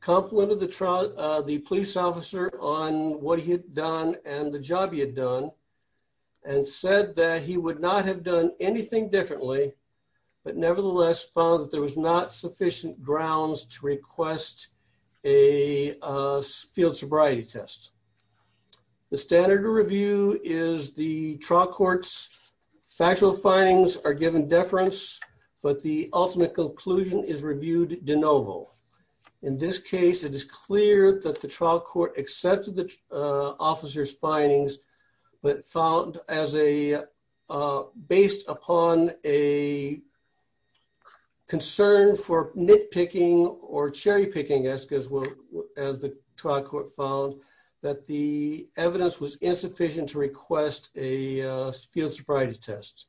complimented the police officer on what he had done and the job he had done and said that he would not have done anything differently but nevertheless found that there was not sufficient grounds to request a field sobriety test. The standard to review is the trial court's factual findings are given but the ultimate conclusion is reviewed de novo. In this case it is clear that the trial court accepted the officer's findings but found as a based upon a concern for nitpicking or cherry picking as well as the trial court found that the evidence was insufficient to request a field sobriety test.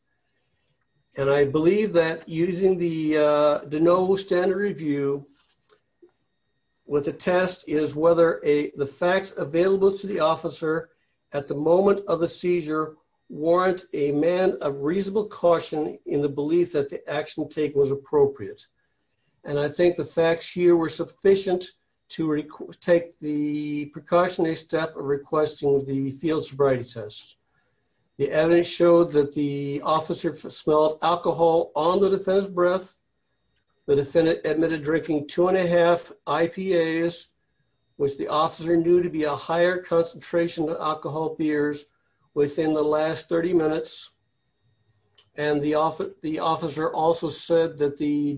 And I believe that using the de novo standard review with the test is whether the facts available to the officer at the moment of the seizure warrant a man of reasonable caution in the belief that the action take was appropriate. And I think the facts here were sufficient to take the precautionary step of requesting the sobriety test. The evidence showed that the officer smelled alcohol on the defendant's breath. The defendant admitted drinking two and a half IPAs which the officer knew to be a higher concentration of alcohol beers within the last 30 minutes. And the officer also said that the suspicion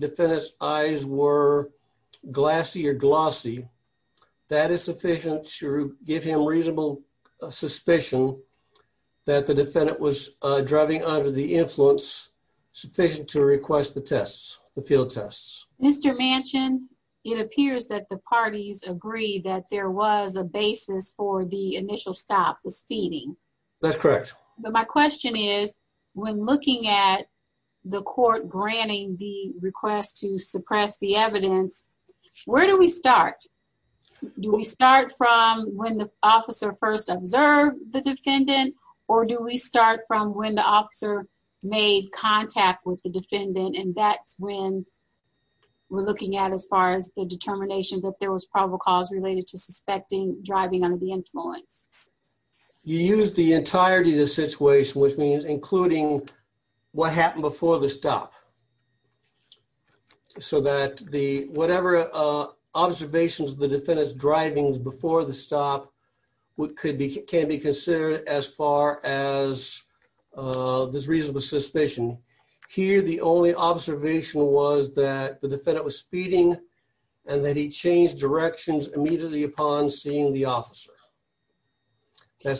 that the defendant was driving under the influence sufficient to request the tests, the field tests. Mr. Manchin, it appears that the parties agreed that there was a basis for the initial stop, the speeding. That's correct. But my question is when looking at the court granting the request to suppress the evidence, where do we start? Do we start from when the defendant or do we start from when the officer made contact with the defendant and that's when we're looking at as far as the determination that there was probable cause related to suspecting driving under the influence? You use the entirety of the situation which means including what happened before the stop. So that the whatever observations the defendant's driving before the stop what could be can be considered as far as this reasonable suspicion. Here the only observation was that the defendant was speeding and that he changed directions immediately upon seeing the officer. So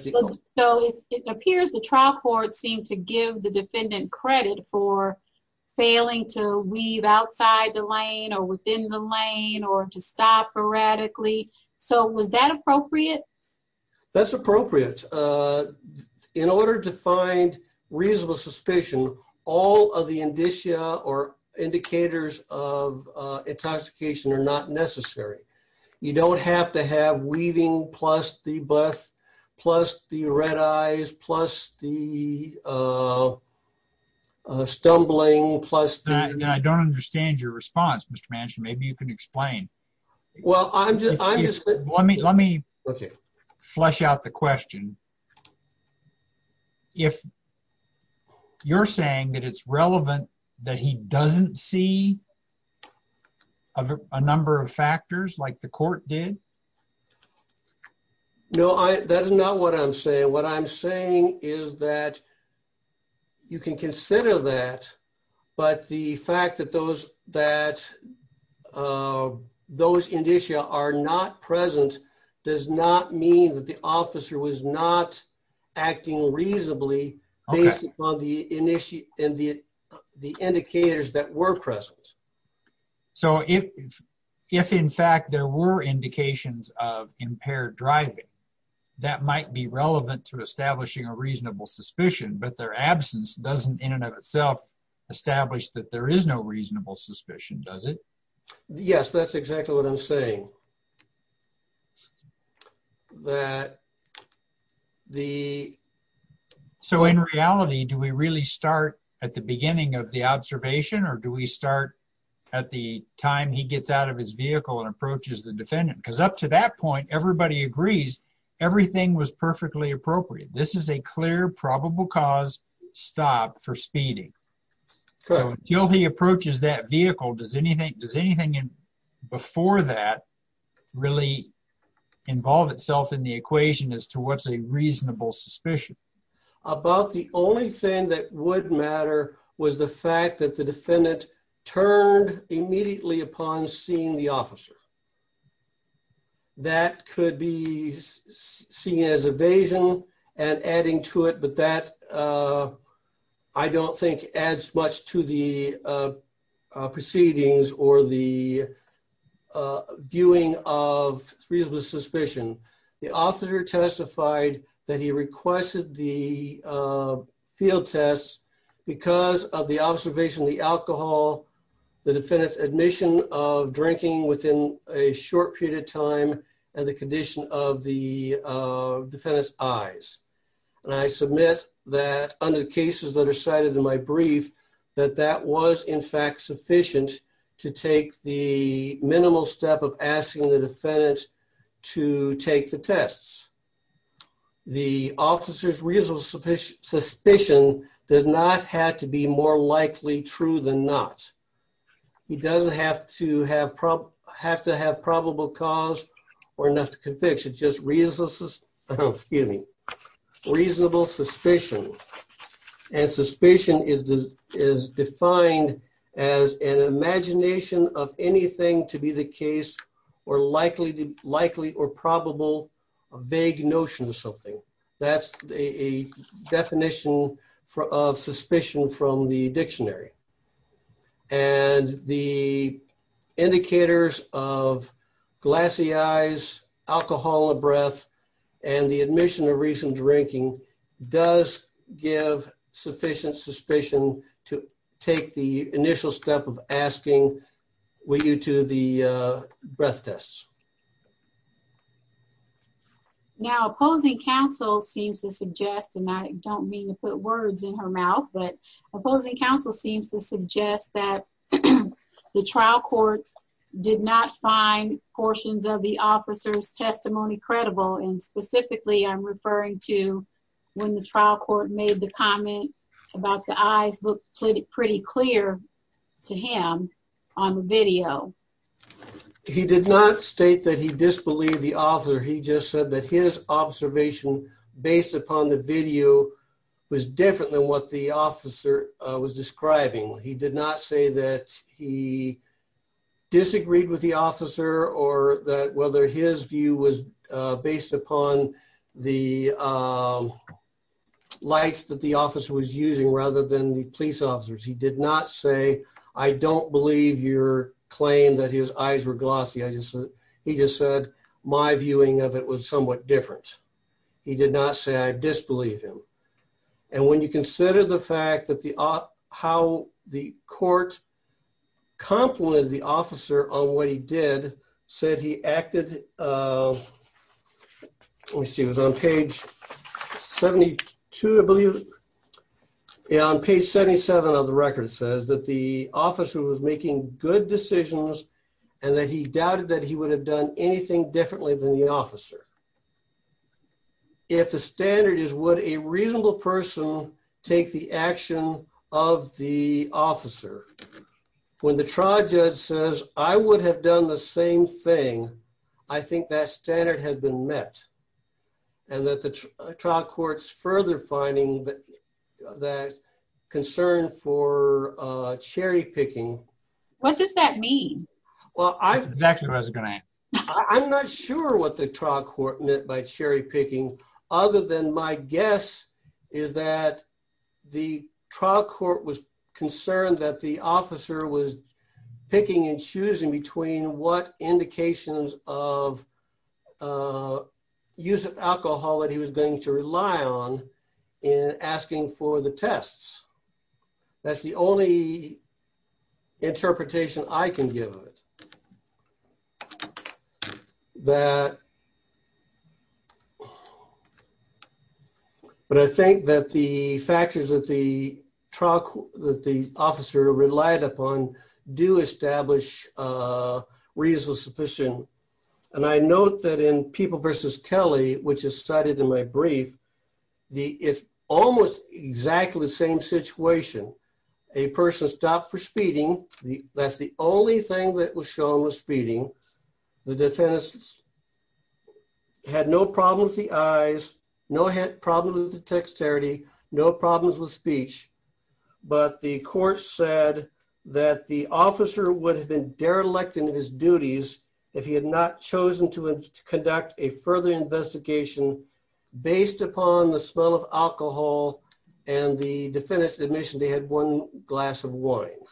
it appears the trial court seemed to give the defendant credit for was that appropriate? That's appropriate. In order to find reasonable suspicion all of the indicia or indicators of intoxication are not necessary. You don't have to have weaving plus the breath plus the red eyes plus the stumbling. I don't understand your response Mr. Manchin. Maybe you can explain. Well I'm just let me let me okay flesh out the question. If you're saying that it's relevant that he doesn't see a number of factors like the court did? No I that is not what I'm saying. What I'm saying is that you can consider that but the fact that those that those indicia are not present does not mean that the officer was not acting reasonably based upon the initia and the the indicators that were present. So if if in fact there were indications of impaired driving that might be relevant to establishing a reasonable suspicion but their absence doesn't in and of itself establish that there is no reasonable suspicion does it? Yes that's exactly what I'm saying. That the so in reality do we really start at the beginning of the observation or do we start at the time he gets out of his vehicle and approaches the defendant? Because up to that point everybody agrees everything was perfectly appropriate. This is a clear probable cause stop for speeding. So until he approaches that vehicle does anything does anything in before that really involve itself in the equation as to what's a reasonable suspicion? About the only thing that would matter was the fact that the defendant turned immediately upon seeing the officer. That could be seen as evasion and adding to it but that I don't think adds much to the proceedings or the viewing of reasonable suspicion. The officer testified that he requested the field tests because of the observation the alcohol the defendant's admission of drinking within a short period of time and the condition of the defendant's eyes. And I submit that under the cases that are cited in my brief that that was in fact sufficient to take the minimal step of asking the defendant to take the tests. The officer's reasonable suspicion does not have to be more likely true than not. He doesn't have to have problem have to have probable cause or enough to convict. It's just reasonable suspicion and suspicion is defined as an imagination of anything to be the case or likely to likely or probable a vague notion of something. That's a definition of suspicion from the dictionary. And the indicators of glassy eyes, alcohol in the breath and the admission of reasoned drinking does give sufficient suspicion to take the initial step of with you to the breath tests. Now opposing counsel seems to suggest and I don't mean to put words in her mouth but opposing counsel seems to suggest that the trial court did not find portions of the officer's testimony credible and specifically I'm referring to when the trial court made the comment about the clear to him on the video. He did not state that he disbelieved the officer. He just said that his observation based upon the video was different than what the officer was describing. He did not say that he disagreed with the officer or that whether his view was based upon the lights that the officer was using rather than the police officers. He did not say I don't believe your claim that his eyes were glossy. I just said he just said my viewing of it was somewhat different. He did not say I disbelieve him and when you consider the fact that the how the court complimented the officer on what he did said he acted let me see it was on page 72 I believe yeah on page 77 of the record says that the officer was making good decisions and that he doubted that he would have done anything differently than the officer. If the standard is would a reasonable person take the action of the officer when the trial judge says I would have done the same thing I think that standard has been met and that the trial court's further finding that that concern for uh cherry picking. What does that mean? Well I'm not sure what the trial court meant by cherry picking other than my guess is that the trial court was concerned that the officer was picking and choosing between what indications of use of alcohol that he was going to rely on in asking for the tests. That's the only interpretation I can give of it that but I think that the factors that the truck that the officer relied upon do establish uh reason sufficient and I note that in people versus kelly which is cited in my brief the it's almost exactly the same situation a person stopped for speeding the that's the only thing that was shown was speeding the defense had no problem with the eyes no head problem with the dexterity no problems with speech but the court said that the officer would have been derelict in his duties if he had not chosen to conduct a further investigation based upon the smell of alcohol and the defendant's admission they had one glass of wine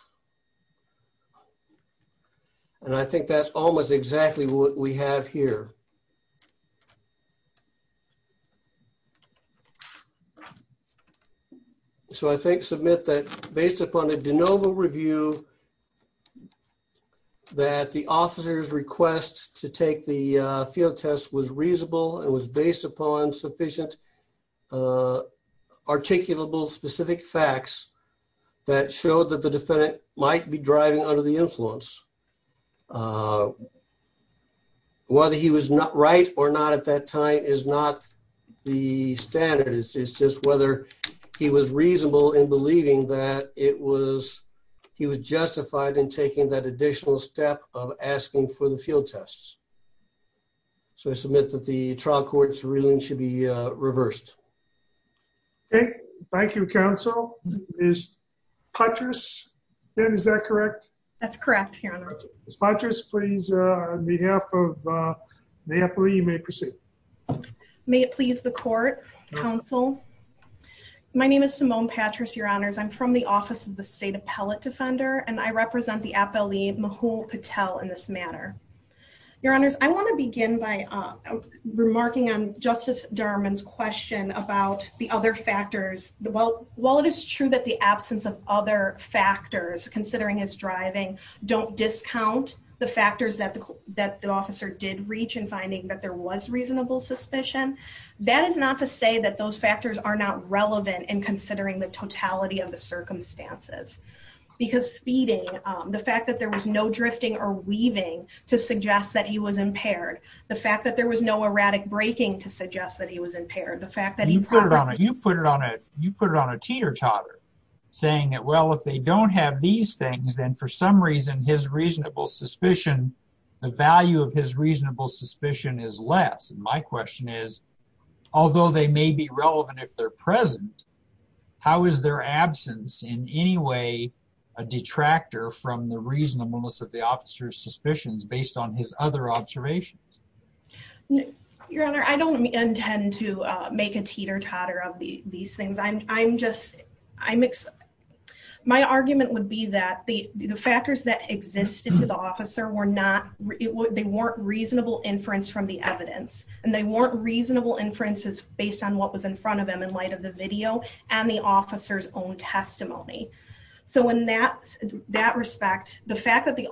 and I think that's almost exactly what we have here so I think submit that based upon a de novo review that the officer's request to take the field test was reasonable and was based upon sufficient articulable specific facts that showed that the defendant might be driving under the influence whether he was not right or not at that time is not the standard it's just whether he was justified in taking that additional step of asking for the field tests so I submit that the trial court's ruling should be uh reversed okay thank you counsel is patrice then is that correct that's correct here on this mattress please uh on behalf of napoli you may proceed may it please the court counsel my name is simone patrice your honors i'm from the office of the state appellate defender and i represent the appellee mahul patel in this manner your honors i want to begin by uh remarking on justice derman's question about the other factors well while it is true that the absence of other factors considering his driving don't discount the factors that the that the officer did reach in finding that there was reasonable suspicion that is not to say that those factors are not relevant in considering the totality of the circumstances because speeding um the fact that there was no drifting or weaving to suggest that he was impaired the fact that there was no erratic braking to suggest that he was impaired the fact that you put it on it you put it on it you put it on a teeter-totter saying that well if they don't have these things then for some reason his reasonable suspicion the value of his reasonable suspicion is less my question is although they may be relevant if they're present how is their absence in any way a detractor from the reasonableness of the officer's suspicions based on his other observations your honor i don't intend to uh make a teeter-totter of the these things i'm i'm just i'm my argument would be that the the factors that existed to the officer were not they weren't reasonable inference from the evidence and they weren't reasonable inferences based on what was in front of him in light of the video and the officer's own testimony so in that that respect the fact that the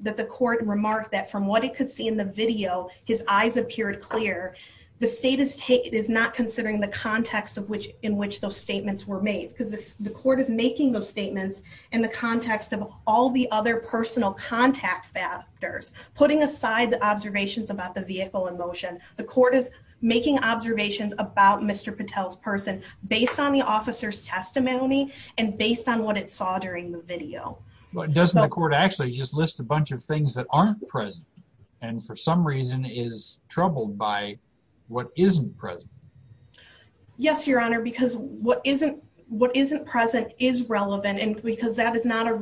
that the court remarked that from what it could see in the video his eyes appeared clear the state is taking is not considering the context of which in which those statements were made because the court is making those statements in the context of all the other personal contact factors putting aside the vehicle in motion the court is making observations about mr patel's person based on the officer's testimony and based on what it saw during the video but doesn't the court actually just list a bunch of things that aren't present and for some reason is troubled by what isn't present yes your honor because what isn't what isn't present is relevant and because that is not a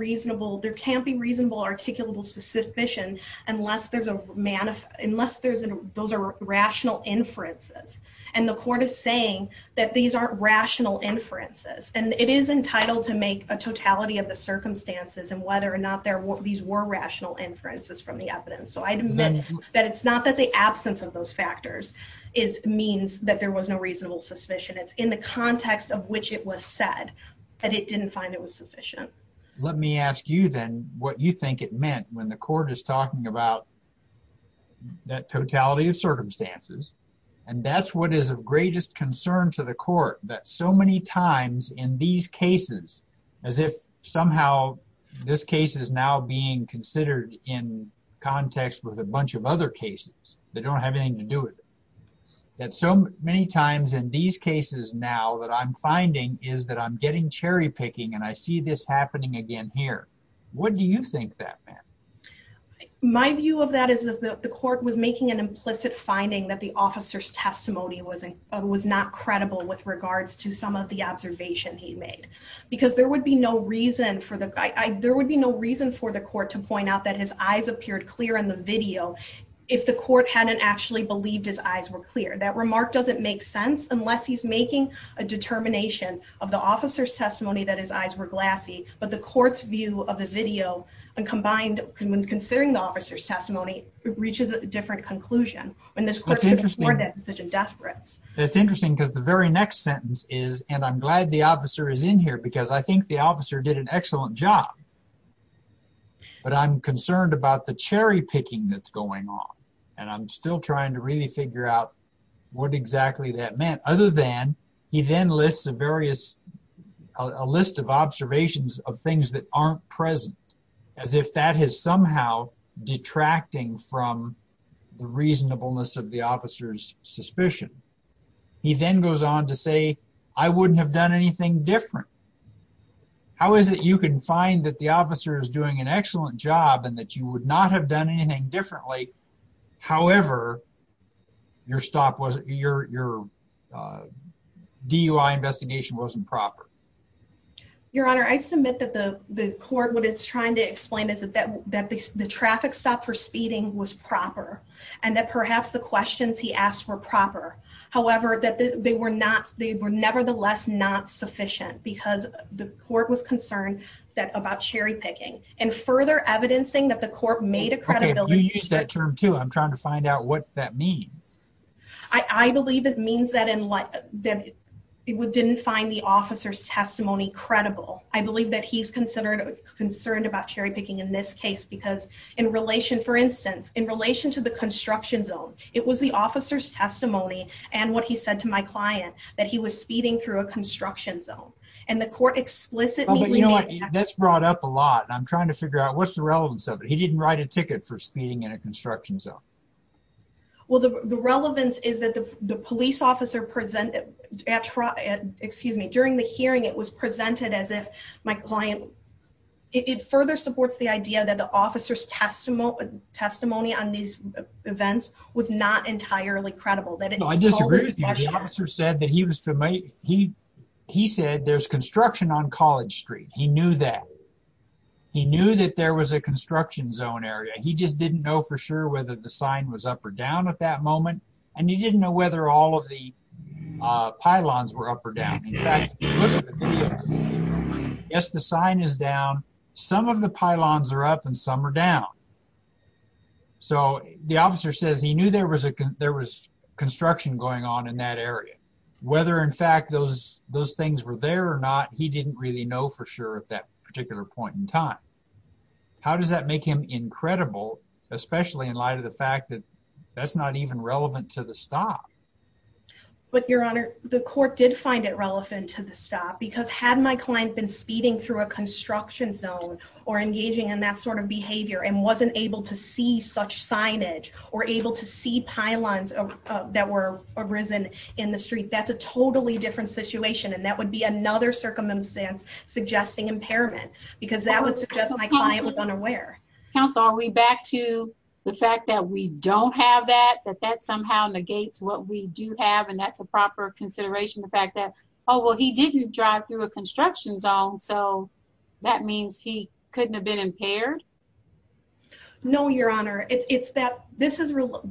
those are rational inferences and the court is saying that these aren't rational inferences and it is entitled to make a totality of the circumstances and whether or not there were these were rational inferences from the evidence so i admit that it's not that the absence of those factors is means that there was no reasonable suspicion it's in the context of which it was said that it didn't find it was sufficient let me ask you then what you think it meant when the court is talking about that totality of circumstances and that's what is of greatest concern to the court that so many times in these cases as if somehow this case is now being considered in context with a bunch of other cases that don't have anything to do with it that so many times in these cases now that i'm finding is that i'm getting cherry picking and i see this happening again here what do you think that meant my view of that is that the court was making an implicit finding that the officer's testimony wasn't was not credible with regards to some of the observation he made because there would be no reason for the guy there would be no reason for the court to point out that his eyes appeared clear in the video if the court hadn't actually believed his eyes were clear that remark doesn't make sense unless he's making a determination of the officer's testimony that his eyes were glassy but the court's view of the video and combined when considering the officer's testimony it reaches a different conclusion when this question is such a death threats that's interesting because the very next sentence is and i'm glad the officer is in here because i think the officer did an excellent job but i'm concerned about the cherry picking that's going on and i'm still trying to really figure out what exactly that meant other than he then lists the various a list of observations of things that aren't present as if that is somehow detracting from the reasonableness of the officer's suspicion he then goes on to say i wouldn't have done anything different how is it you can find that the officer is doing an excellent job and that you would not have done anything differently however your stop was your your uh dui investigation wasn't proper your honor i submit that the the court what it's trying to explain is that that that the traffic stop for speeding was proper and that perhaps the questions he asked were proper however that they were not they were nevertheless not sufficient because the court was concerned that about cherry picking and i'm trying to find out what that means i i believe it means that in like that it didn't find the officer's testimony credible i believe that he's considered concerned about cherry picking in this case because in relation for instance in relation to the construction zone it was the officer's testimony and what he said to my client that he was speeding through a construction zone and the court explicitly you know that's brought up a lot and i'm trying to so well the the relevance is that the the police officer presented at excuse me during the hearing it was presented as if my client it further supports the idea that the officer's testimony testimony on these events was not entirely credible that i disagree with you the officer said that he was for me he he said there's construction on college street he knew that he knew that there was a construction zone area he just didn't know for sure whether the sign was up or down at that moment and he didn't know whether all of the uh pylons were up or down yes the sign is down some of the pylons are up and some are down so the officer says he knew there was a there was construction going on in that area whether in fact those those things were there or not he didn't really know for sure at that particular point in time how does that make him incredible especially in light of the fact that that's not even relevant to the stop but your honor the court did find it relevant to the stop because had my client been speeding through a construction zone or engaging in that sort of behavior and wasn't able to see such signage or able to see pylons that were arisen in the street that's a totally different situation and that would be another circumstance suggesting impairment because that would suggest my client was unaware counsel are we back to the fact that we don't have that that that somehow negates what we do have and that's a proper consideration the fact that oh well he didn't drive through a construction zone so that means he couldn't have been impaired no your honor it's that this is real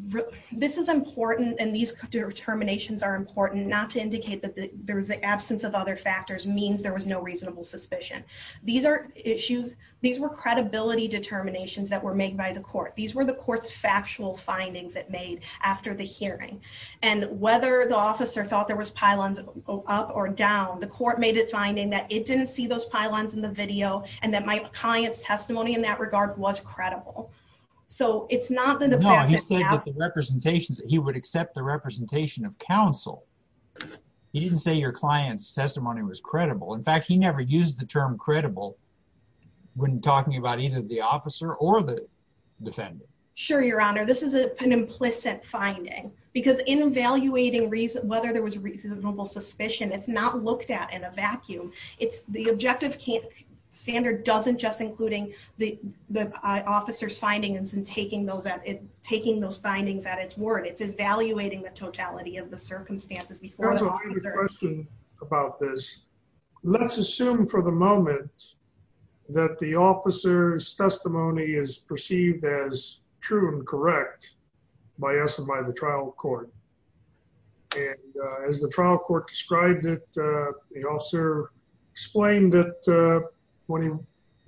this is important and these determinations are important not to indicate that there's the absence of other factors means there was no reasonable suspicion these are issues these were credibility determinations that were made by the court these were the court's factual findings that made after the hearing and whether the officer thought there was pylons up or down the court made it finding that it didn't see those pylons in the video and that my client's testimony in that was credible so it's not the department he said that the representations that he would accept the representation of counsel he didn't say your client's testimony was credible in fact he never used the term credible when talking about either the officer or the defendant sure your honor this is a an implicit finding because in evaluating reason whether there was reasonable suspicion it's not looked at in a vacuum it's the objective can't standard doesn't just including the the officer's findings and taking those out it taking those findings at its word it's evaluating the totality of the circumstances before the question about this let's assume for the moment that the officer's testimony is perceived as true and correct by us and by the court and as the trial court described it the officer explained that when he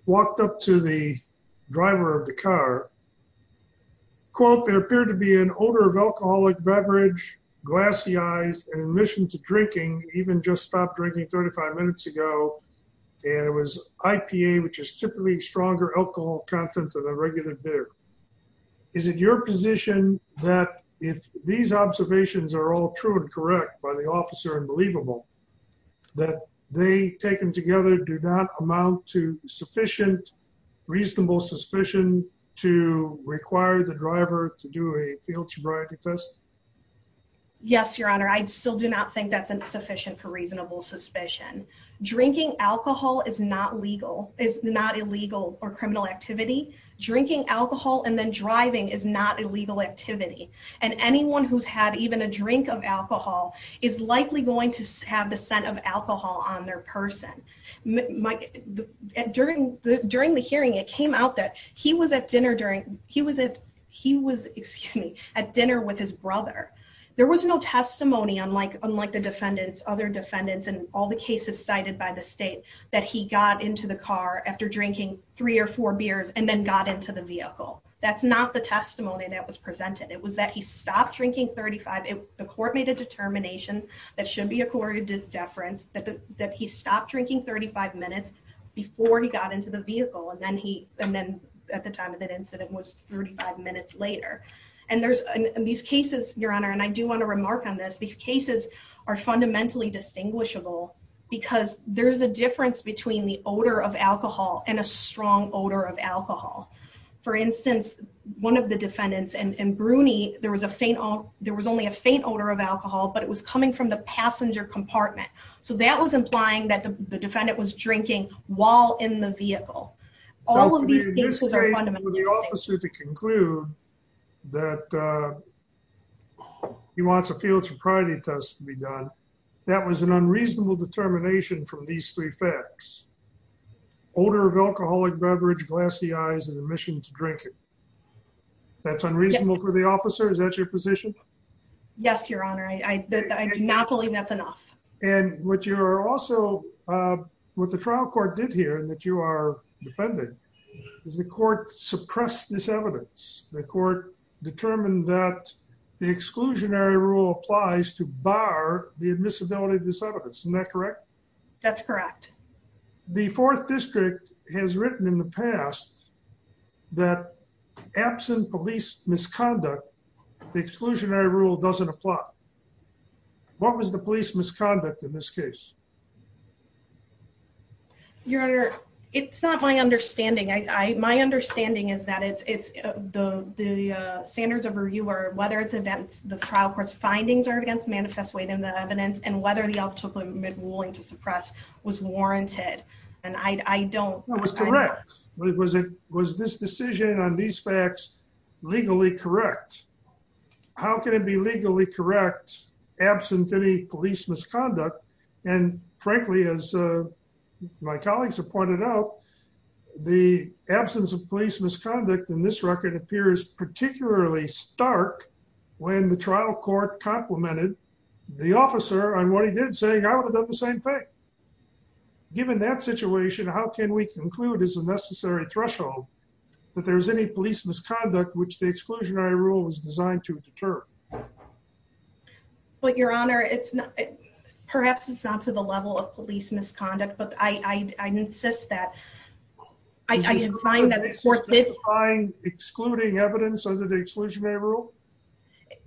walked up to the driver of the car quote there appeared to be an odor of alcoholic beverage glassy eyes and admission to drinking even just stopped drinking 35 minutes ago and it was ipa which is typically stronger alcohol content than a regular beer is it your position that if these observations are all true and correct by the officer and believable that they taken together do not amount to sufficient reasonable suspicion to require the driver to do a field sobriety test yes your honor i still do not think that's insufficient for reasonable suspicion drinking alcohol is not illegal is not illegal or criminal activity drinking alcohol and then driving is not illegal activity and anyone who's had even a drink of alcohol is likely going to have the scent of alcohol on their person during the during the hearing it came out that he was at dinner during he was at he was excuse me at dinner with his brother there was no testimony unlike unlike the drinking three or four beers and then got into the vehicle that's not the testimony that was presented it was that he stopped drinking 35 the court made a determination that should be accorded to deference that that he stopped drinking 35 minutes before he got into the vehicle and then he and then at the time of that incident was 35 minutes later and there's these cases your honor and i do want to remark on this these cases are fundamentally distinguishable because there's a of alcohol and a strong odor of alcohol for instance one of the defendants and and bruni there was a faint there was only a faint odor of alcohol but it was coming from the passenger compartment so that was implying that the defendant was drinking while in the vehicle all of these cases are fundamental to conclude that uh he wants a field sobriety test to be done that was an unreasonable determination from these three facts odor of alcoholic beverage glassy eyes and admission to drinking that's unreasonable for the officer is that your position yes your honor i i do not believe that's enough and what you are also uh what the trial court did here that you are defending is the court suppressed this evidence the court determined that the exclusionary rule applies to bar the admissibility of this evidence isn't that correct that's correct the fourth district has written in the past that absent police misconduct the exclusionary rule doesn't apply what was the police misconduct in this case your honor it's not my understanding i i my understanding is that it's it's the the uh standards of review or whether it's events the trial court's findings are against manifest weight in the evidence and whether the ultimate ruling to suppress was warranted and i i don't that was correct was it was this decision on these facts legally correct how can it be legally correct absent any police misconduct and frankly as uh my colleagues have pointed out the absence of police misconduct in this record appears particularly stark when the trial court complimented the officer on what he did saying i would have done the same thing given that situation how can we conclude as a necessary threshold that there's any police misconduct which the exclusionary rule is designed to deter but your honor it's not perhaps it's not to the level of police misconduct but i i i insist that i did find that the court did find excluding evidence under the exclusionary rule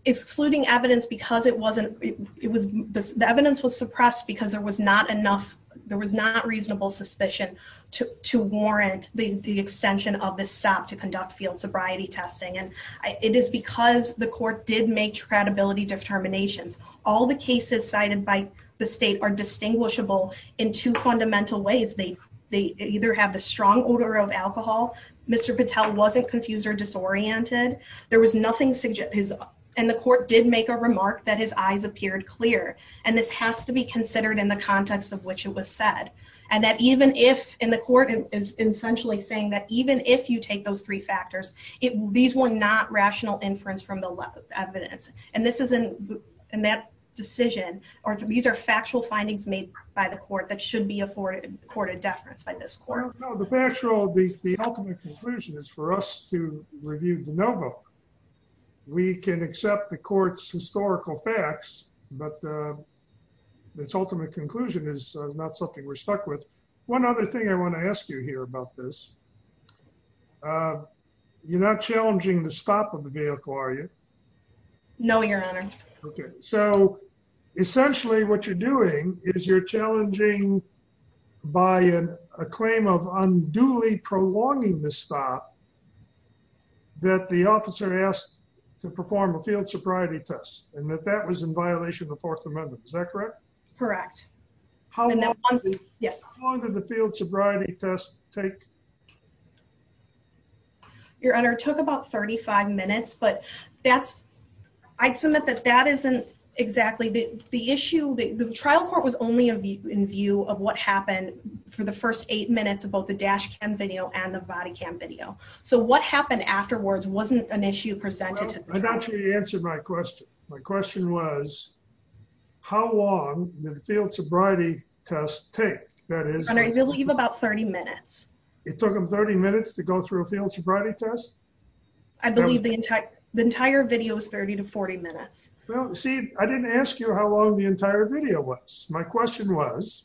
excluding evidence because it wasn't it was the evidence was suppressed because there was not enough there was not reasonable suspicion to to warrant the the extension of this stop to conduct field sobriety testing and it is because the court did make credibility determinations all the cases cited by the state are distinguishable in two fundamental ways they they either have the strong odor of alcohol mr patel wasn't confused or disoriented there was nothing suggest his and the court did make a remark that his eyes appeared clear and this has to be considered in the context of which it was said and that even if in the court is essentially saying that even if you take those three factors it these were not rational inference from the evidence and this isn't in that decision or these are factual findings made by the court that should be afforded court of deference by this court no the factual the the ultimate conclusion is for us to review de novo we can accept the court's historical facts but uh this ultimate conclusion is not something we're stuck with one other thing i want to ask you here about this uh you're not challenging the stop of the vehicle are you no your honor okay so essentially what you're doing is you're challenging by a claim of unduly prolonging the stop that the officer asked to perform a field sobriety test and that that was in violation of the fourth amendment is that correct correct yes how long did the field sobriety test take your honor took about 35 minutes but that's i'd submit that that isn't exactly the the issue the trial court was only in view of what happened for the first eight minutes of both the dash cam video and the body cam video so what happened afterwards wasn't an issue presented i got you to answer my question my question was how long did the field sobriety test take that is you believe about 30 minutes it took them 30 minutes to go through a field sobriety test i believe the entire the entire video is 30 to 40 minutes well see i didn't ask you how long the entire video was my question was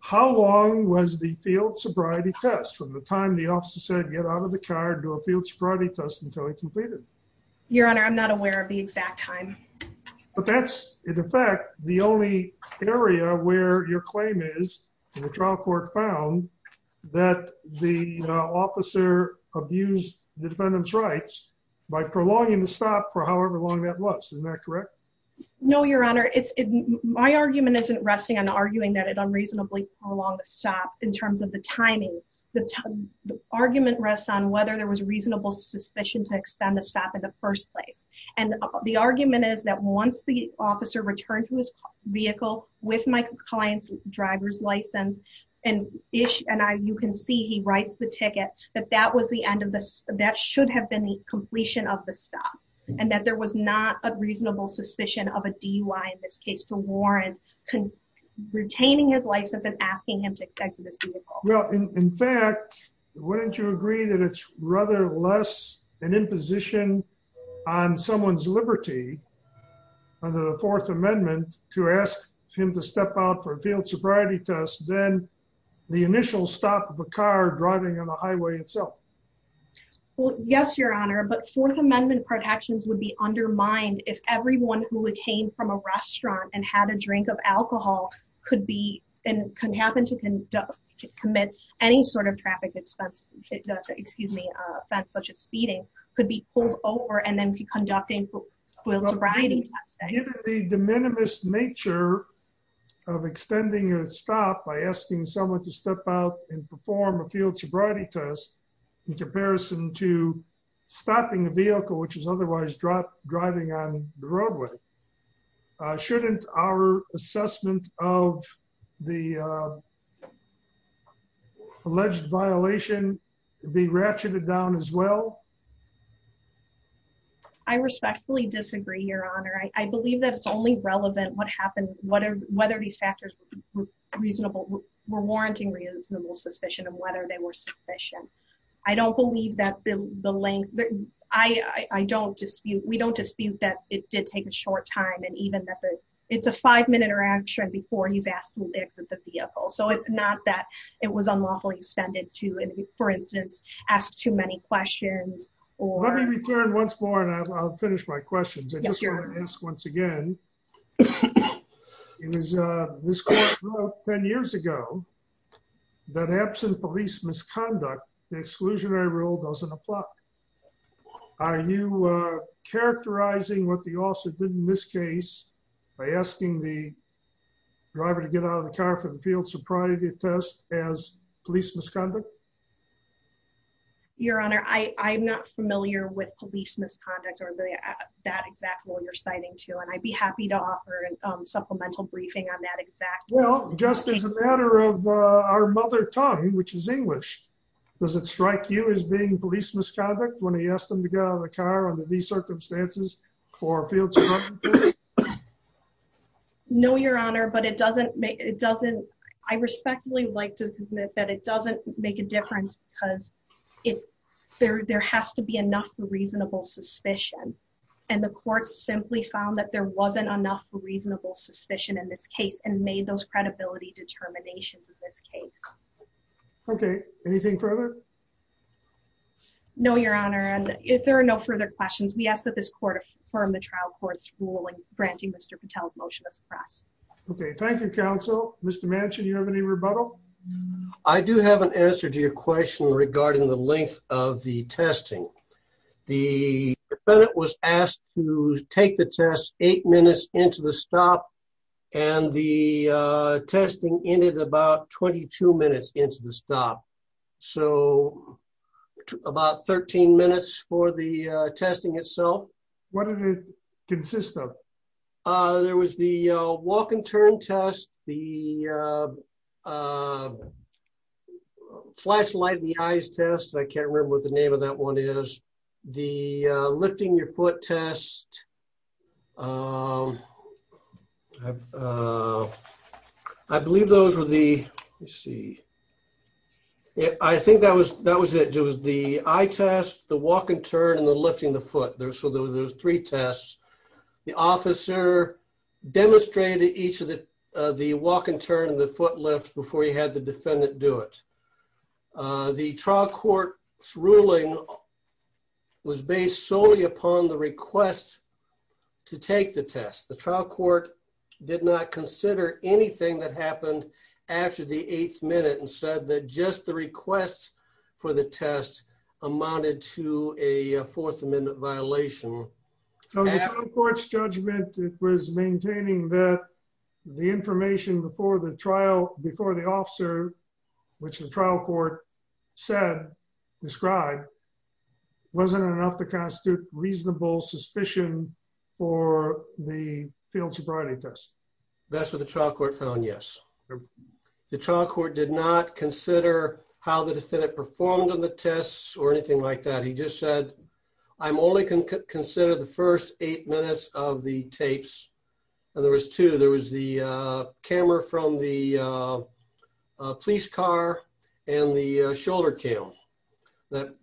how long was the field sobriety test from the time the officer said get out of the car and do a field sobriety test until he completed your honor i'm not aware of the exact time but that's in effect the only area where your claim is the trial court found that the officer abused the defendant's rights by prolonging the stop for however long that was isn't that correct no your honor it's my argument isn't resting on arguing that it unreasonably prolonged stop in terms of the timing the argument rests on whether there was reasonable suspicion to extend the stop in the first place and the argument is that once the officer returned to his vehicle with my client's driver's license and ish and i you can see he writes the ticket that that was the end of this that should have been the completion of the stop and that there was not a reasonable suspicion of a dui in this case to warren retaining his license and asking him to on someone's liberty under the fourth amendment to ask him to step out for a field sobriety test then the initial stop of a car driving on the highway itself well yes your honor but fourth amendment protections would be undermined if everyone who came from a restaurant and had a drink of alcohol could be and can happen to conduct commit any sort of traffic expense excuse me offense such as speeding could be pulled over and then be conducting the de minimis nature of extending a stop by asking someone to step out and perform a field sobriety test in comparison to stopping a vehicle which is otherwise dropped driving on the roadway shouldn't our assessment of the alleged violation be ratcheted down as well i respectfully disagree your honor i believe that it's only relevant what happened what are whether these factors were reasonable were warranting reasonable suspicion of whether they were sufficient i don't believe that the length i i don't dispute we don't dispute that it did take a short time and even that it's a five-minute interaction before he's asked to exit the vehicle so it's not that it was unlawfully extended to and for instance ask too many questions or let me return once more and i'll finish my questions i just want to ask once again it was uh this court wrote 10 years ago that absent police misconduct the exclusionary doesn't apply are you uh characterizing what the officer did in this case by asking the driver to get out of the car for the field sobriety test as police misconduct your honor i i'm not familiar with police misconduct or that exact role you're citing to and i'd be happy to offer a supplemental briefing on that exact well just as a matter of our mother tongue which is english does it strike you as being police misconduct when he asked them to get out of the car under these circumstances for a field no your honor but it doesn't make it doesn't i respectfully like to admit that it doesn't make a difference because if there there has to be enough reasonable suspicion and the court simply found that there wasn't enough reasonable suspicion in this case and made those credibility determinations of this case okay anything further no your honor and if there are no further questions we ask that this court affirm the trial court's ruling granting mr patel's motion to suppress okay thank you counsel mr mansion you have any rebuttal i do have an answer to your question regarding the length of the testing the defendant was asked to in it about 22 minutes into the stop so about 13 minutes for the testing itself what did it consist of uh there was the uh walk and turn test the uh uh flashlight the eyes test i can't remember what the name of that one is the uh lifting your foot test um i've uh i believe those were the let's see yeah i think that was that was it it was the eye test the walk and turn and the lifting the foot there so there's three tests the officer demonstrated each of the uh the walk and turn and the foot lift before you had the defendant do it uh the trial court's ruling was based solely upon the request to take the test the trial court did not consider anything that happened after the eighth minute and said that just the requests for the test amounted to a fourth amendment violation so the trial court's judgment it was maintaining that the information before the trial before the officer which the trial court said described wasn't enough to constitute reasonable suspicion for the field sobriety test that's what the trial court found yes the trial court did not consider how the defendant performed on the tests or anything like that he just said i'm only going to consider the first eight minutes of the tapes and there was two there was the uh camera from the uh police car and the shoulder cam that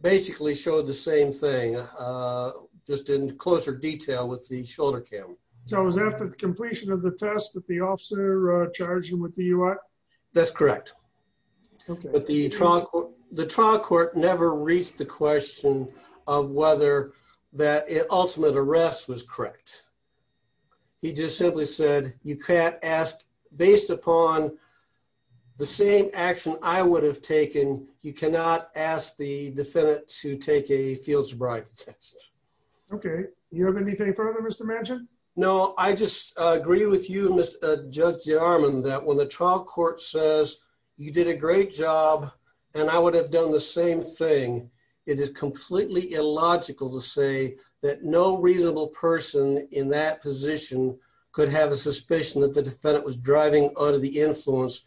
basically showed the same thing uh just in closer detail with the shoulder cam so it was after the completion of the test that the officer uh charged him with the ui that's correct okay but the trunk the trial court never reached the question of whether that ultimate arrest was correct he just simply said you can't ask based upon the same action i would have taken you cannot ask the defendant to take a field sobriety test okay you have anything further mr mansion no i just agree with you mr judge jarman that when the trial court says you did a great job and i would have done the in that position could have a suspicion that the defendant was driving under the influence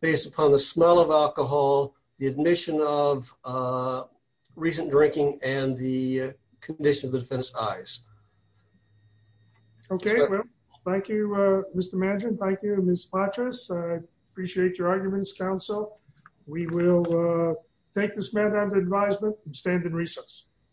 based upon the smell of alcohol the admission of uh recent drinking and the condition of the defense eyes okay well thank you uh mr manager thank you miss mattress i appreciate your arguments counsel we will uh take this matter under advisement and stand in recess